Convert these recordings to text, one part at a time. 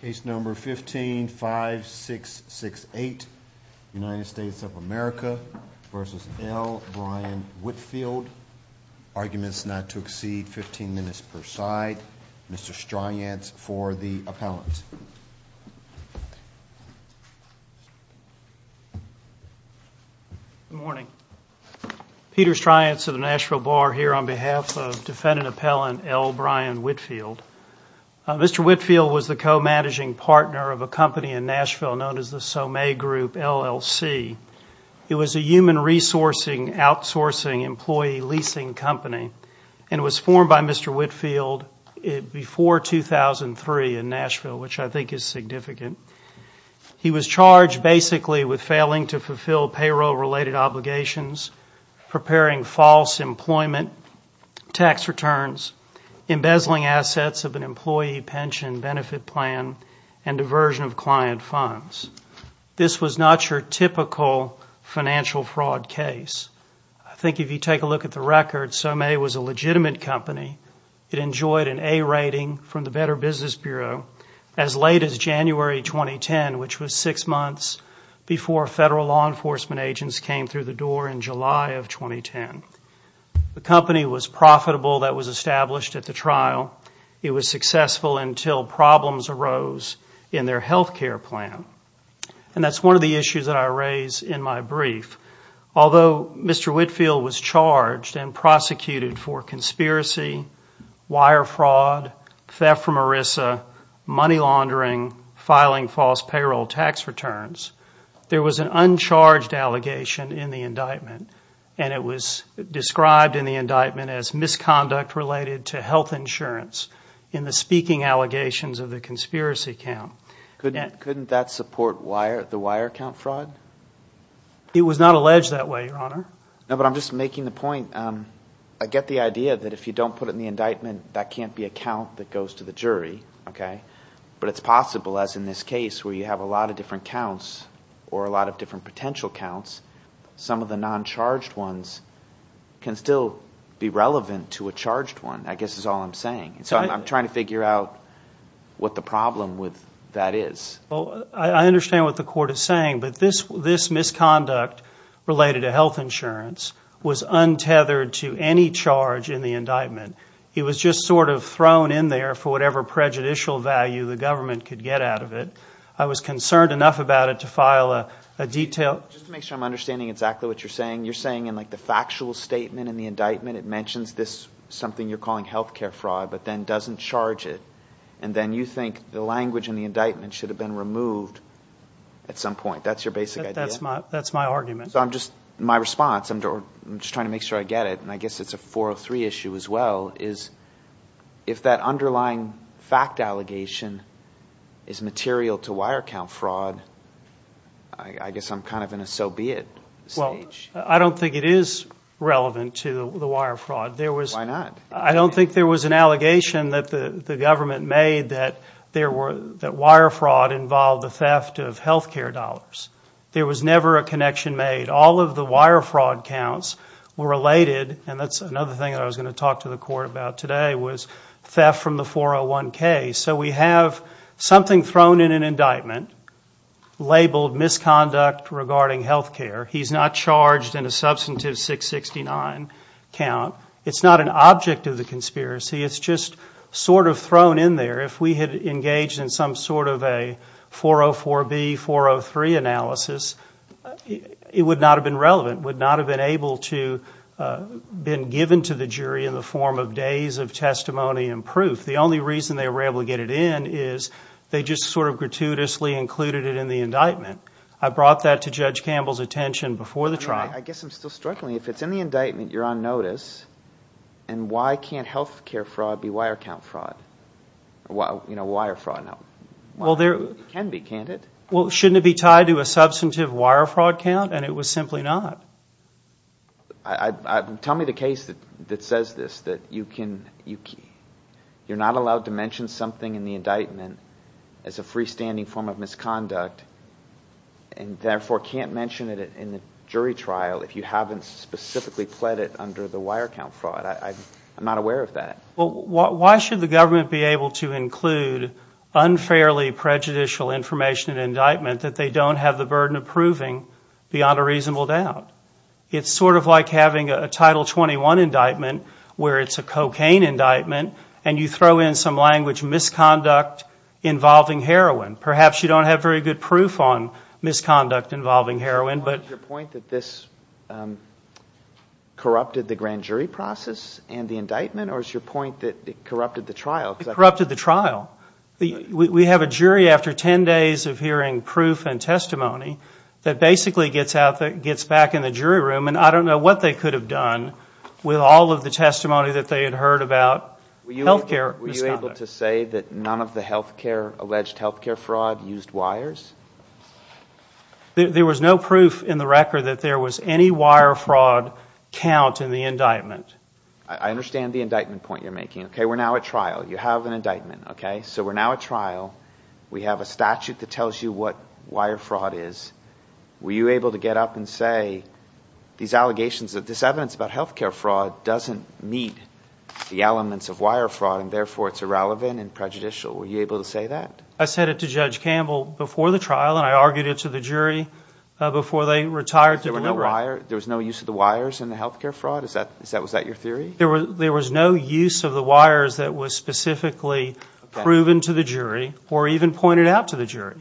Case number 15 5 6 6 8. United States of America v. L Brian Whitfield. Arguments not to exceed 15 minutes per side. Mr. Stryantz for the appellant. Good morning. Peter Stryantz of the Nashville Bar here on behalf of defendant L Brian Whitfield. Mr. Whitfield was the co-managing partner of a company in Nashville known as the Sommet Group LLC. It was a human resourcing outsourcing employee leasing company and was formed by Mr. Whitfield before 2003 in Nashville, which I think is significant. He was charged basically with failing to fulfill payroll related obligations, preparing false employment tax returns, embezzling assets of an employee pension benefit plan, and diversion of client funds. This was not your typical financial fraud case. I think if you take a look at the record, Sommet was a legitimate company. It enjoyed an A rating from the Better Business Bureau as late as January 2010, which was six months before federal law enforcement agents came through the door in July of 2010. The company was profitable that was established at the trial. It was successful until problems arose in their health care plan. And that's one of the issues that I raised in my brief. Although Mr. Whitfield was charged and prosecuted for conspiracy, wire fraud, theft from ERISA, money laundering, filing false payroll tax returns, there was an uncharged allegation in the indictment. And it was described in the indictment as misconduct related to health insurance in the speaking allegations of the conspiracy count. Couldn't that support the wire count fraud? It was not alleged that way, Your Honor. No, but I'm just making the point. I get the idea that if you don't put it in the indictment, that can't be a count that goes to the jury, okay? But it's possible, as in this case where you have a lot of different counts or a lot of different potential counts, some of the non-charged ones can still be relevant to a charged one, I guess is all I'm saying. So I'm trying to figure out what the problem with that is. I understand what the court is saying, but this misconduct related to health insurance was untethered to any charge in the indictment. It was just sort of thrown in there for whatever prejudicial value the government could get out of it. I was concerned enough about it to file a detailed... Just to make sure I'm understanding exactly what you're saying, you're saying in the factual statement in the indictment, it mentions this, something you're calling health care fraud, but then doesn't charge it. And then you think the language in the indictment should have been removed at some point. That's your basic idea? That's my argument. So I'm just, my response, I'm just trying to make sure I get it, and I guess it's a 403 issue as well, is if that underlying fact allegation is material to wire count fraud, I guess I'm kind of in a so be it stage. I don't think it is relevant to the wire fraud. Why not? I don't think there was an allegation that the government made that wire fraud involved the theft of health care dollars. There was never a connection made. All of the wire fraud counts were related, and that's another thing I was going to talk to the court about today, was theft from the 401k. So we have something thrown in an indictment labeled misconduct regarding health care. He's not charged in a substantive 669 count. It's not an object of the conspiracy. It's just sort of thrown in there. If we had engaged in some sort of a 404b, 403 analysis, it would not have been relevant, would not have been able to have been given to the jury in the form of days of testimony and proof. The only reason they were able to get it in is they just sort of gratuitously included it in the indictment. I brought that to Judge Campbell's attention before the trial. I guess I'm still struggling. If it's in the indictment, you're on notice, and why can't health care fraud be wire count fraud? Wire fraud can be, can't it? Well, shouldn't it be tied to a substantive wire fraud count? And it was simply not. Tell me the case that says this, that you're not allowed to mention something in the indictment as a freestanding form of misconduct, and therefore can't mention it in the jury trial if you haven't specifically pled it under the wire count fraud. I'm not aware of that. Why should the government be able to include unfairly prejudicial information in an indictment that they don't have the burden of proving beyond a reasonable doubt? It's sort of like having a Title 21 indictment where it's a cocaine indictment, and you throw in some language, misconduct involving heroin. Perhaps you don't have very good proof on misconduct involving heroin, but... It corrupted the trial. We have a jury after 10 days of hearing proof and testimony that basically gets back in the jury room, and I don't know what they could have done with all of the testimony that they had heard about health care misconduct. Were you able to say that none of the alleged health care fraud used wires? There was no proof in the record that there was any wire fraud count in the indictment. I understand the indictment point you're making. We're now at trial. You have an indictment. So we're now at trial. We have a statute that tells you what wire fraud is. Were you able to get up and say these allegations, that this evidence about health care fraud doesn't meet the elements of wire fraud, and therefore it's irrelevant and prejudicial? Were you able to say that? I said it to Judge Campbell before the trial, and I argued it to the jury before they retired to deliver on it. There was no use of the wires in the health care fraud? Was that your theory? There was no use of the wires that was specifically proven to the jury or even pointed out to the jury.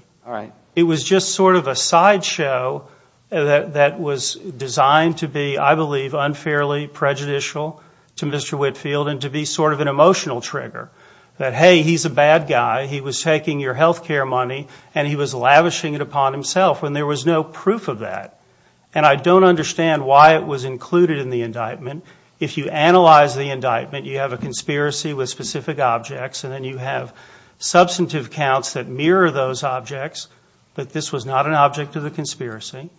It was just sort of a sideshow that was designed to be, I believe, unfairly prejudicial to Mr. Whitfield and to be sort of an emotional trigger. That, hey, he's a bad guy. He was taking your health care money, and he was lavishing it upon himself, when there was no proof of that. And I don't understand why it was included in the indictment. If you analyze the indictment, you have a conspiracy with specific objects, and then you have substantive counts that mirror those objects, but this was not an object of the conspiracy,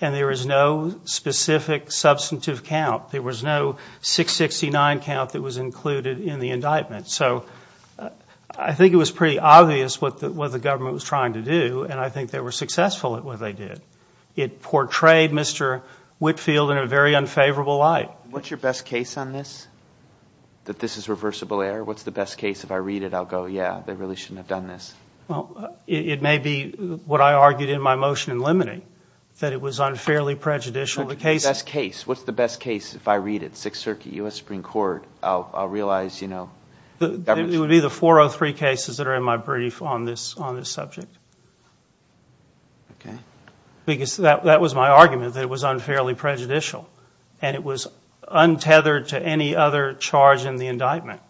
and there is no specific substantive count. There was no 669 count that was included in the indictment. So I think it was pretty obvious what the government was trying to do, and I think they were successful at what they did. It portrayed Mr. Whitfield in a very unfavorable light. What's your best case on this? That this is reversible error? What's the best case? If I read it, I'll go, yeah, they really shouldn't have done this. It may be what I argued in my motion in limiting, that it was unfairly prejudicial. What's the best case? What's the best case? If I read it, Sixth Circuit, U.S. Supreme Court, I'll realize, you know, the government's... Okay. Because that was my argument, that it was unfairly prejudicial, and it was untethered to any other charge in the indictment.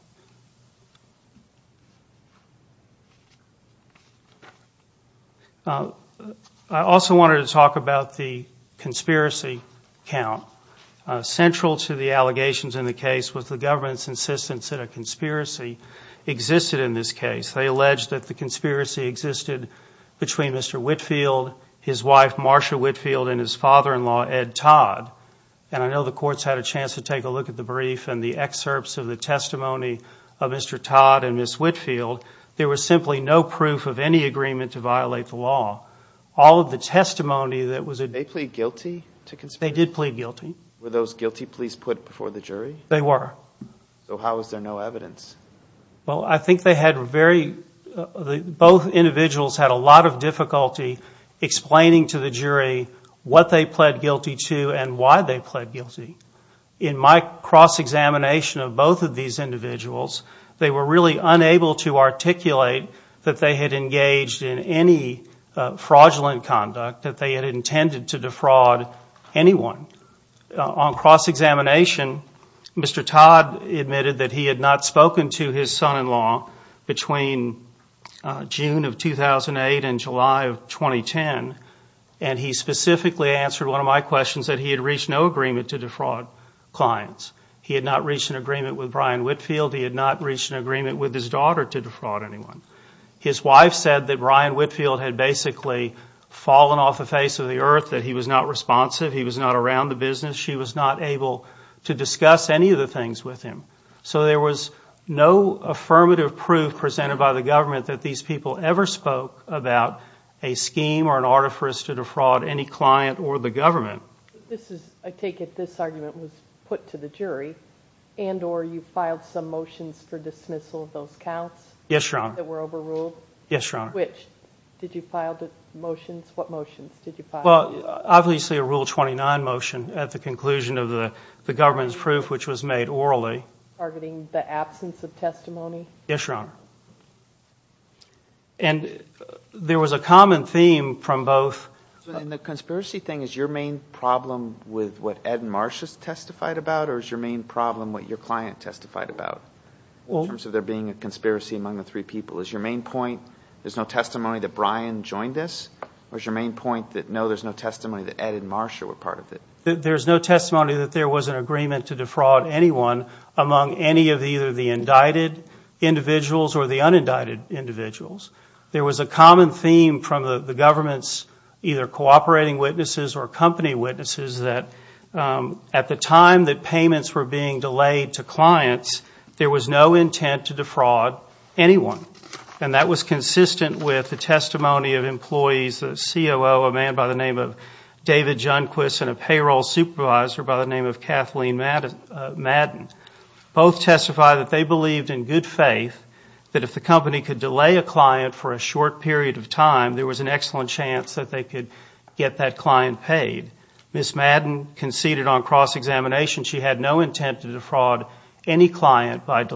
I also wanted to talk about the conspiracy count. Central to the allegations in the case was the government's insistence that a conspiracy existed in this case. They alleged that the wife, Marsha Whitfield, and his father-in-law, Ed Todd, and I know the court's had a chance to take a look at the brief and the excerpts of the testimony of Mr. Todd and Ms. Whitfield, there was simply no proof of any agreement to violate the law. All of the testimony that was... They plead guilty to conspiracy? They did plead guilty. Were those guilty police put before the jury? They were. So how is there no evidence? Well, I think they had very... Both individuals had a lot of difficulty explaining to the jury what they pled guilty to and why they pled guilty. In my cross-examination of both of these individuals, they were really unable to articulate that they had engaged in any fraudulent conduct, that they had intended to defraud anyone. On cross-examination, Mr. Todd had not spoken to his son-in-law between June of 2008 and July of 2010, and he specifically answered one of my questions that he had reached no agreement to defraud clients. He had not reached an agreement with Brian Whitfield. He had not reached an agreement with his daughter to defraud anyone. His wife said that Brian Whitfield had basically fallen off the face of the earth, that he was not responsive, he was not around the business. She was not able to discuss any of the things with him. So there was no affirmative proof presented by the government that these people ever spoke about a scheme or an artifice to defraud any client or the government. I take it this argument was put to the jury, and or you filed some motions for dismissal of those counts? Yes, Your Honor. That were overruled? Yes, Your Honor. Which? Did you file the motions? What motions did you file? Well, obviously a Rule 29 motion at the conclusion of the government's proof, which was made orally. Targeting the absence of testimony? Yes, Your Honor. And there was a common theme from both... And the conspiracy thing, is your main problem with what Ed and Marcia testified about, or is your main problem what your client testified about? In terms of there being a conspiracy among the three people. Is your main point, there's no testimony that Brian joined this? Or is your main point that no, there's no testimony that Ed and Marcia were part of it? There's no testimony that there was an agreement to defraud anyone among any of either the indicted individuals or the unindicted individuals. There was a common theme from the government's either cooperating witnesses or company witnesses that at the time that payments were being delayed to clients, there was no intent to defraud anyone. And that was consistent with the testimony of employees, a COO, a man by the name of David Junquist, and a payroll supervisor by the name of Kathleen Madden. Both testified that they believed in good faith that if the company could delay a client for a short period of time, there was an excellent chance that they could get that client paid. Ms. Madden conceded on cross-examination, she had no intent to defraud any client by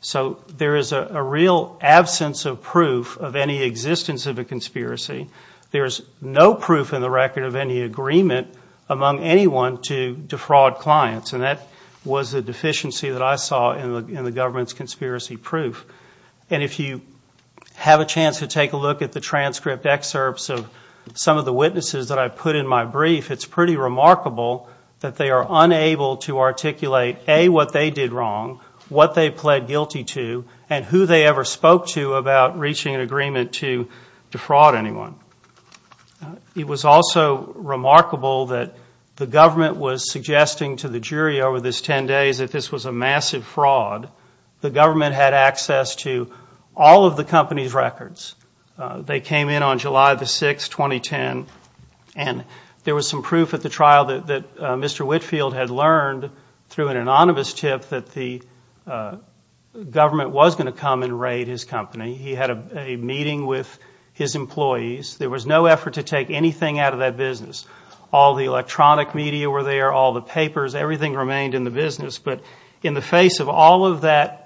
So there is a real absence of proof of any existence of a conspiracy. There's no proof in the record of any agreement among anyone to defraud clients. And that was a deficiency that I saw in the government's conspiracy proof. And if you have a chance to take a look at the transcript excerpts of some of the witnesses that I put in my brief, it's pretty remarkable that they are unable to articulate, A, what they did wrong, what they pled guilty to, and who they ever spoke to about reaching an agreement to defraud anyone. It was also remarkable that the government was suggesting to the jury over this 10 days that this was a massive fraud. The government had access to all of the company's records. They came in on July the 6th, 2010, and there was some proof at the trial that Mr. Whitfield had learned through an anonymous tip that the government was going to come and raid his company. He had a meeting with his employees. There was no effort to take anything out of that business. All the electronic media were there, all the papers, everything remained in the business. But in the face of all of that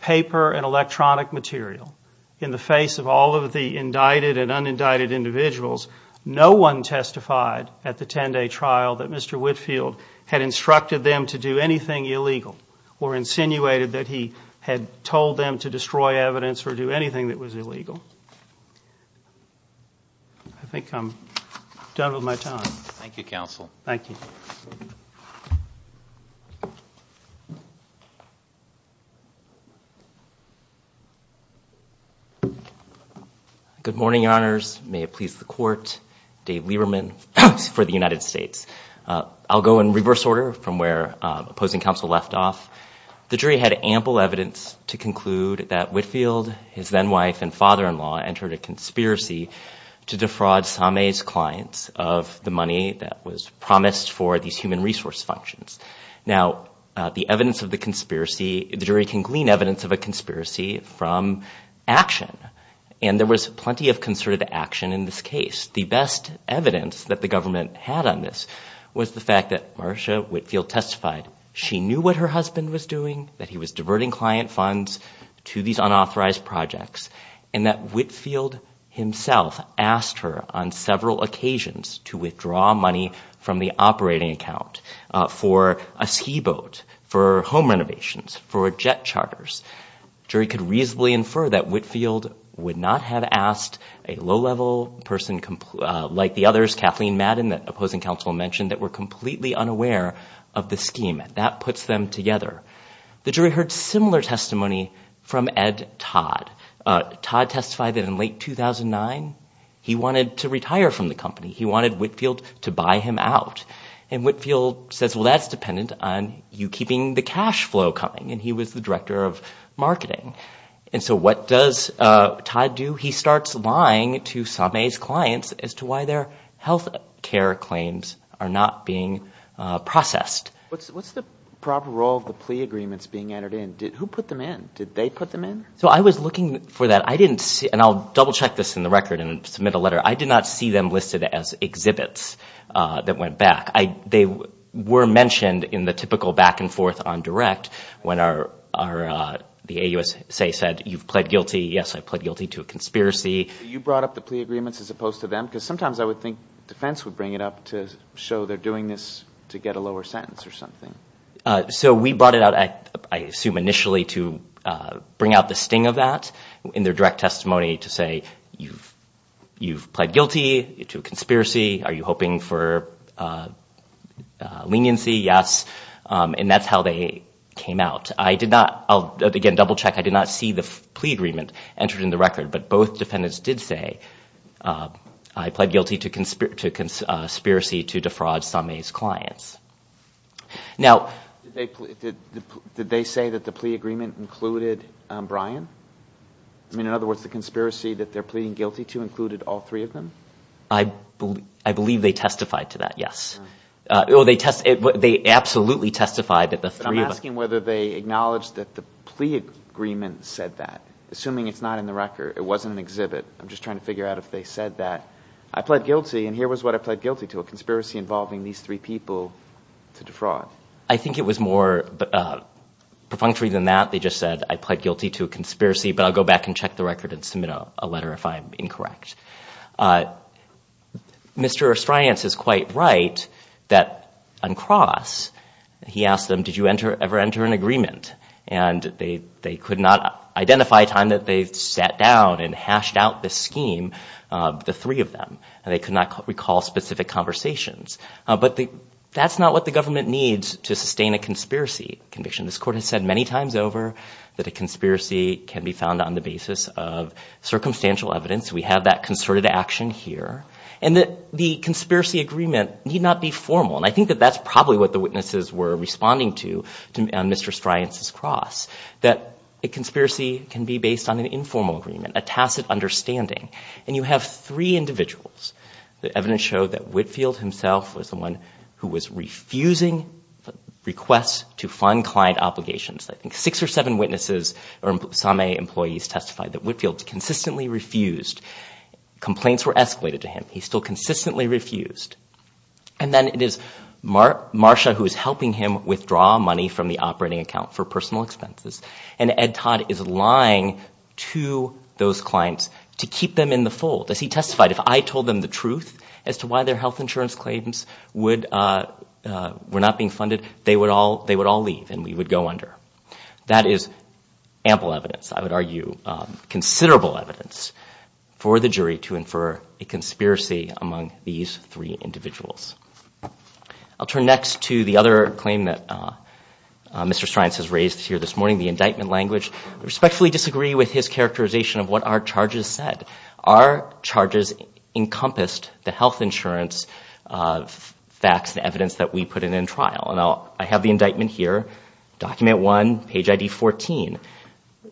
paper and electronic material, in the face of all of the indicted and unindicted individuals, no one testified at the 10 day trial that Mr. Whitfield had instructed them to do anything illegal or insinuated that he had told them to destroy evidence or do anything that was illegal. I think I'm done with my time. Thank you, counsel. Thank you. Good morning, your honors. May it please the court. Dave Lieberman for the United States. I'll go in reverse order from where opposing counsel left off. The jury had ample evidence to conclude that Whitfield, his then wife and father-in-law entered a conspiracy to defraud Sameh's clients of the money that was promised for these human resource functions. Now, the jury can glean evidence of a conspiracy from action. There was plenty of concerted action in this case. The best evidence that the government had on this was the fact that Marcia Whitfield testified. She knew what her husband was doing, that he was diverting client funds to these unauthorized projects, and that Whitfield himself asked her on several occasions for a ski boat, for home renovations, for jet charters. The jury could reasonably infer that Whitfield would not have asked a low-level person like the others, Kathleen Madden, that opposing counsel mentioned, that were completely unaware of the scheme. That puts them together. The jury heard similar testimony from Ed Todd. Todd testified that in late 2009, he wanted to retire from the company. He wanted Whitfield to buy him out. And Whitfield says, well, that's dependent on you keeping the cash flow coming. And he was the director of marketing. And so what does Todd do? He starts lying to Sameh's clients as to why their health care claims are not being processed. What's the proper role of the plea agreements being entered in? Who put them in? Did they put them in? So I was looking for that. I didn't see – and I'll double-check this in the record and I did not see them listed as exhibits that went back. They were mentioned in the typical back-and-forth on direct when the AUSA said, you've pled guilty. Yes, I pled guilty to a conspiracy. You brought up the plea agreements as opposed to them? Because sometimes I would think defense would bring it up to show they're doing this to get a lower sentence or something. So we brought it out, I assume initially, to bring out the sting of that in their direct testimony to say, you've pled guilty to a conspiracy. Are you hoping for leniency? Yes. And that's how they came out. I did not – I'll again double-check. I did not see the plea agreement entered in the record. But both defendants did say, I pled guilty to conspiracy to defraud Sameh's clients. Did they say that the plea agreement included Brian? I mean, in other words, the conspiracy that they're pleading guilty to included all three of them? I believe they testified to that, yes. They absolutely testified that the three of them – But I'm asking whether they acknowledged that the plea agreement said that. Assuming it's not in the record, it wasn't an exhibit. I'm just trying to figure out if they said that. I pled guilty and here was what I pled guilty to, a conspiracy involving these three people to defraud. I think it was more perfunctory than that. They just said, I pled guilty to a conspiracy, but I'll go back and check the record and submit a letter if I'm incorrect. Mr. Astriance is quite right that on cross, he asked them, did you ever enter an agreement? And they could not identify a time that they sat down and hashed out this scheme, the three of them, and they could not recall specific conversations. But that's not what the government needs to sustain a conspiracy conviction. This Court has said many times over that a conspiracy can be found on the basis of circumstantial evidence. We have that concerted action here. And the conspiracy agreement need not be formal. And I think that that's probably what the witnesses were responding to on Mr. Astriance's cross, that a conspiracy can be based on an individual's. The evidence showed that Whitfield himself was the one who was refusing requests to fund client obligations. I think six or seven witnesses or some employees testified that Whitfield consistently refused. Complaints were escalated to him. He still consistently refused. And then it is Marsha who is helping him withdraw money from the operating account for personal expenses. And Ed Todd is lying to those clients to keep them in the fold. As he testified, if I told them the truth as to why their health insurance claims were not being funded, they would all leave and we would go under. That is ample evidence, I would argue, considerable evidence for the jury to infer a conspiracy among these three individuals. I'll turn next to the other claim that Mr. Astriance has raised here this morning, the indictment language. We respectfully disagree with his characterization of what our charges said. Our charges encompassed the health insurance facts and evidence that we put in in trial. I have the indictment here, document 1, page ID 14.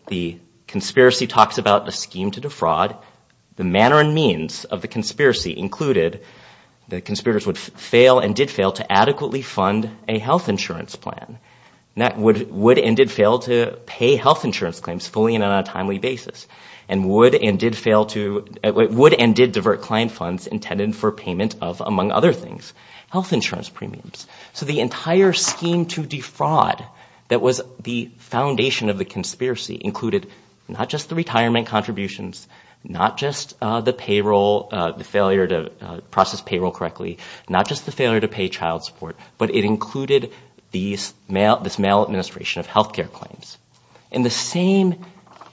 The conspiracy talks about the scheme to defraud. The manner and means of the conspiracy included that conspirators would fail and did fail to adequately fund a health insurance plan. Would and did fail to pay health insurance claims fully and on a timely basis. And would and did fail to, would and did divert client funds intended for payment of, among other things, health insurance premiums. So the entire scheme to defraud that was the foundation of the conspiracy included not just the retirement contributions, not just the payroll, the failure to process payroll correctly, not just the failure to pay child support, but it included this mail administration of health care claims. And the same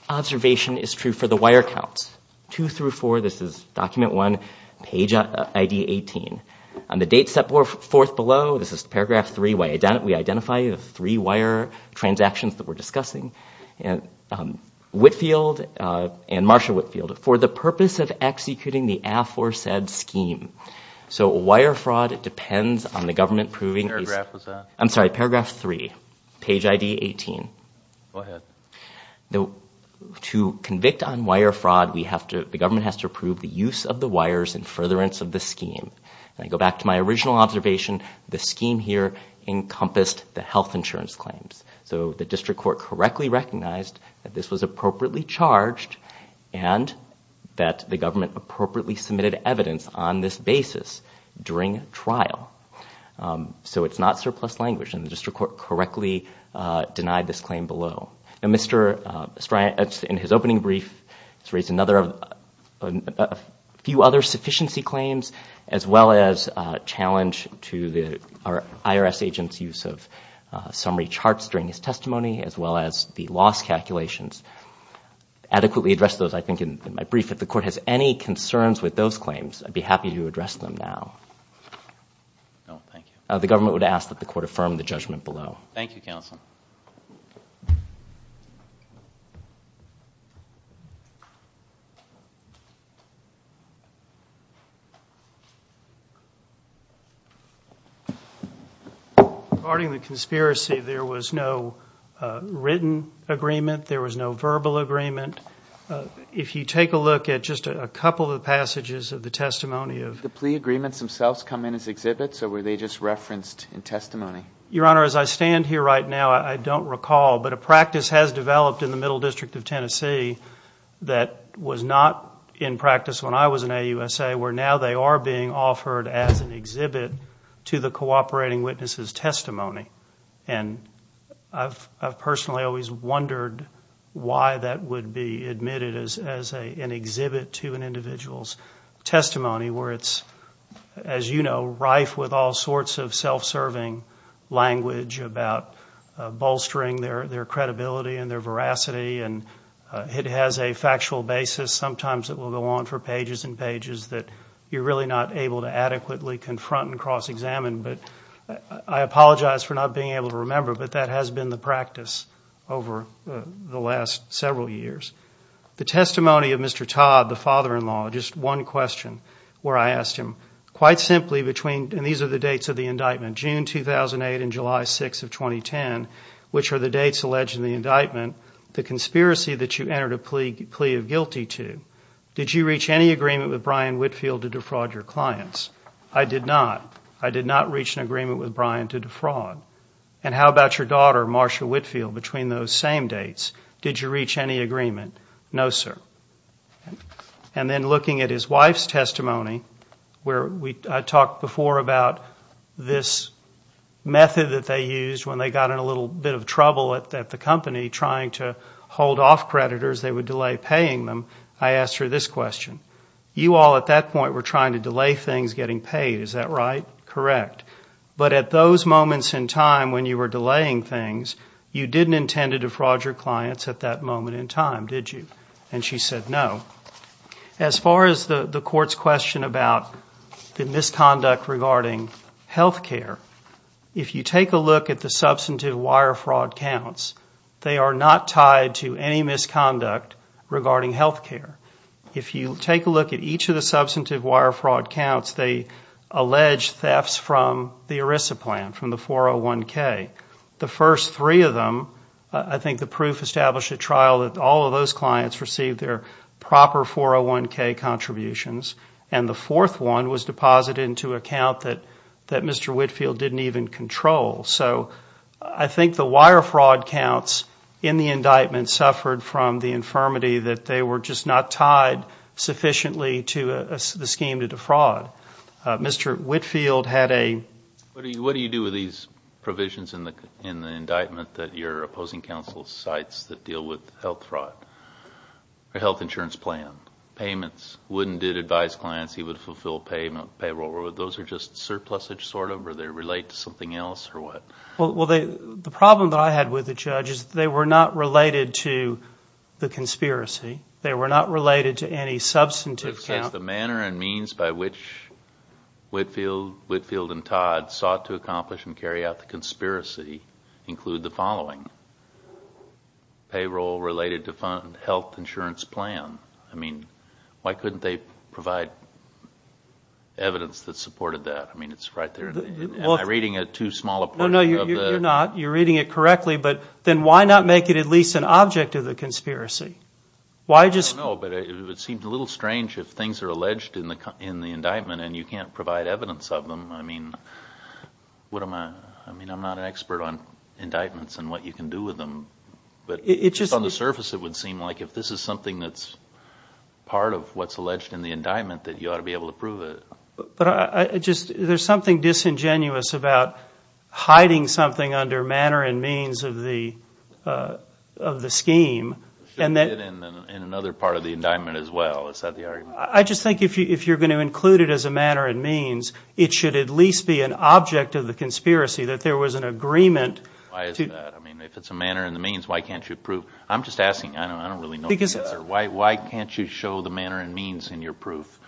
observation is true for the wire counts. Two through four, this is document 1, page ID 18. On the date set forth below, this is paragraph 3, we identify the three wire transactions that we're discussing. Whitfield and Marsha Whitfield, for the purpose of executing the aforesaid scheme. So wire fraud depends on the government proving... Go ahead. To convict on wire fraud, we have to, the government has to approve the use of the wires and furtherance of the scheme. I go back to my original observation, the scheme here encompassed the health insurance claims. So the district court correctly recognized that this was appropriately charged and that the government appropriately submitted evidence on this basis during trial. So it's not surplus language and the district court correctly denied this claim below. And Mr. Stryant, in his opening brief, has raised a few other sufficiency claims as well as a challenge to the IRS agent's use of summary charts during his testimony, as well as the loss calculations. Adequately addressed those, I think, in my brief. If the court has any No, thank you. The government would ask that the court affirm the judgment below. Thank you, counsel. Regarding the conspiracy, there was no written agreement, there was no verbal agreement. If you take a look at just a couple of passages of the testimony of... Did the agreements themselves come in as exhibits or were they just referenced in testimony? Your Honor, as I stand here right now, I don't recall, but a practice has developed in the Middle District of Tennessee that was not in practice when I was in AUSA, where now they are being offered as an exhibit to the cooperating witnesses' testimony. And I've personally always wondered why that would be admitted as an exhibit to an individual's testimony, where it's, as you know, rife with all sorts of self-serving language about bolstering their credibility and their veracity. And it has a factual basis. Sometimes it will go on for pages and pages that you're really not able to adequately confront and cross-examine. But I apologize for not being able to remember, but that has been the practice over the last several years. The testimony of Mr. Todd, the father-in-law, just one question where I asked him, quite simply between, and these are the dates of the indictment, June 2008 and July 6 of 2010, which are the dates alleged in the indictment, the conspiracy that you entered a plea of guilty to, did you reach any agreement with Brian Whitfield to defraud your clients? I did not. I did not reach an agreement with Brian to defraud. And how about your daughter, Marcia Whitfield, between those same dates, did you reach any agreement? No, sir. And then looking at his wife's testimony, where I talked before about this method that they used when they got in a little bit of trouble at the company trying to hold off creditors, they would delay paying them, I asked her this question. You all at that point were trying to delay things getting paid, is that right? Correct. But at those moments in time when you were delaying things, you didn't intend to defraud your clients at that moment in time, did you? And she said no. As far as the court's question about the misconduct regarding health care, if you take a look at the substantive wire fraud counts, they are not tied to any misconduct regarding health care. If you take a look at each of the wire fraud counts, they allege thefts from the ERISA plan, from the 401K. The first three of them, I think the proof established at trial that all of those clients received their proper 401K contributions, and the fourth one was deposited into an account that Mr. Whitfield didn't even control. So I think the wire fraud counts in the indictment suffered from the infirmity that they were just not tied sufficiently to the scheme to defraud. Mr. Whitfield had a... What do you do with these provisions in the indictment that you're opposing counsel's sites that deal with health fraud? A health insurance plan, payments, wouldn't it advise clients he would fulfill payroll? Those are just surpluses sort of, or they relate to something else, or what? Well, the problem that I had with the judge is that they were not related to the conspiracy. They were not related to any substantive count. The manner and means by which Whitfield and Todd sought to accomplish and carry out the conspiracy include the following. Payroll related to fund health insurance plan. I mean, why couldn't they provide evidence that supported that? I mean, it's right there. Am I reading it too small a portion of the... No, no, you're not. You're reading it correctly, but then why not make it at least an object of the conspiracy? Why just... I don't know, but it would seem a little strange if things are alleged in the indictment and you can't provide evidence of them. I mean, what am I... I mean, I'm not an expert on indictments and what you can do with them, but just on the surface it would seem like if this is something that's part of what's alleged in the indictment that you ought to be able to prove it. But I just... I'm being disingenuous about hiding something under manner and means of the scheme. It should be in another part of the indictment as well. Is that the argument? I just think if you're going to include it as a manner and means, it should at least be an object of the conspiracy that there was an agreement to... Why is that? I mean, if it's a manner and the means, why can't you prove... I'm just asking. I don't really know the answer. Why can't you show the manner and means in your proof?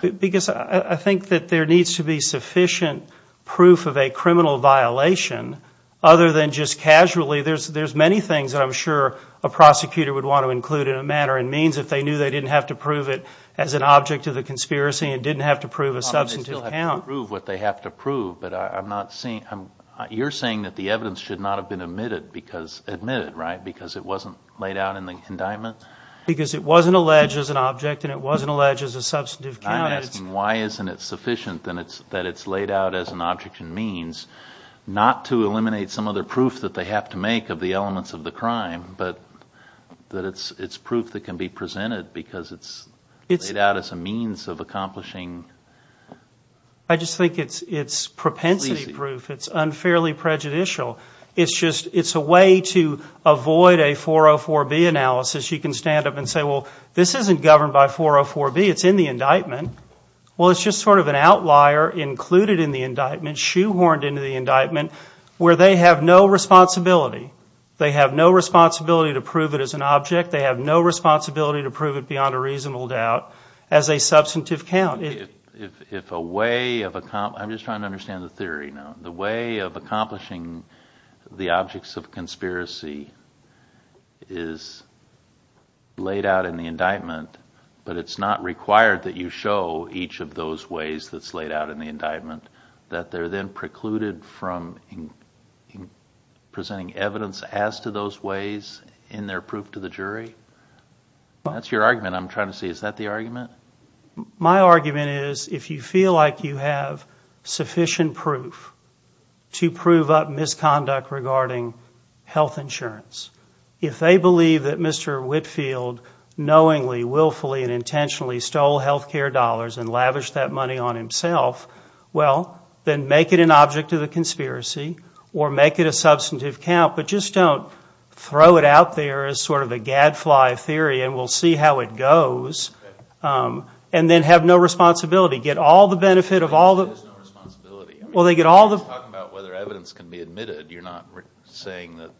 Because I think that there needs to be sufficient proof of a criminal violation other than just casually. There's many things that I'm sure a prosecutor would want to include in a manner and means if they knew they didn't have to prove it as an object of the conspiracy and didn't have to prove a substantive count. They still have to prove what they have to prove, but I'm not seeing... You're saying that the evidence should not have been admitted because... admitted, right? Because it wasn't laid out in the indictment? Because it wasn't alleged as an object and it wasn't alleged as a substantive count. I'm asking why isn't it sufficient that it's laid out as an object and means, not to eliminate some other proof that they have to make of the elements of the crime, but that it's proof that can be presented because it's laid out as a means of accomplishing... I just think it's propensity proof. It's unfairly prejudicial. It's a way to avoid a 404B analysis. You can stand up and say, well, this isn't governed by 404B. It's in the indictment. Well, it's just sort of an outlier included in the indictment, shoehorned into the indictment where they have no responsibility. They have no responsibility to prove it as an object. They have no responsibility to prove it beyond a reasonable doubt as a substantive count. If a way of... I'm just trying to understand the theory now. The way of accomplishing the objects of conspiracy is laid out in the indictment, but it's not required that you show each of those ways that's laid out in the indictment, that they're then precluded from presenting evidence as to those ways in their proof to the jury? That's your argument I'm trying to see. Is that the argument? My argument is if you feel like you have sufficient proof to prove up misconduct regarding health insurance, if they believe that Mr. Whitfield knowingly, willfully, and intentionally stole health care dollars and lavished that money on himself, well, then make it an object of the conspiracy or make it a substantive count, but just don't throw it out there as sort of a gadfly theory and we'll see how it goes, and then have no responsibility. Get all the benefit of all the... There's no responsibility. Well, they get all the... You're talking about whether evidence can be admitted. You're not saying that...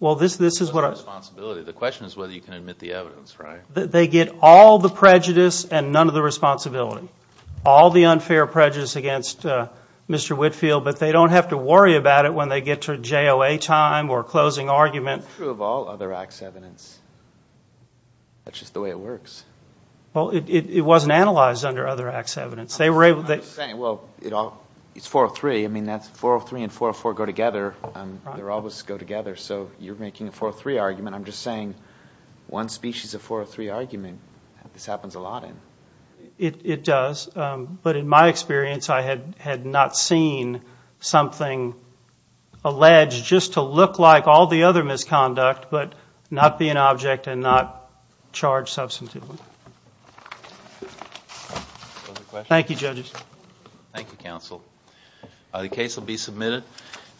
Well, this is what I... There's no responsibility. The question is whether you can admit the evidence, right? They get all the prejudice and none of the responsibility. All the unfair prejudice against Mr. Whitfield, but they don't have to worry about it when they get to JOA time or closing argument. It's not true of all other acts of evidence. That's just the way it works. Well, it wasn't analyzed under other acts of evidence. They were able to... I'm just saying, well, it's 403. I mean, 403 and 404 go together. They always go together, so you're making a 403 argument. I'm just saying one species of 403 argument, this happens a lot in. It does, but in my experience, I had not seen something alleged just to look like all the other misconduct but not be an object and not charge substantively. Thank you, judges. Thank you, counsel. The case will be submitted.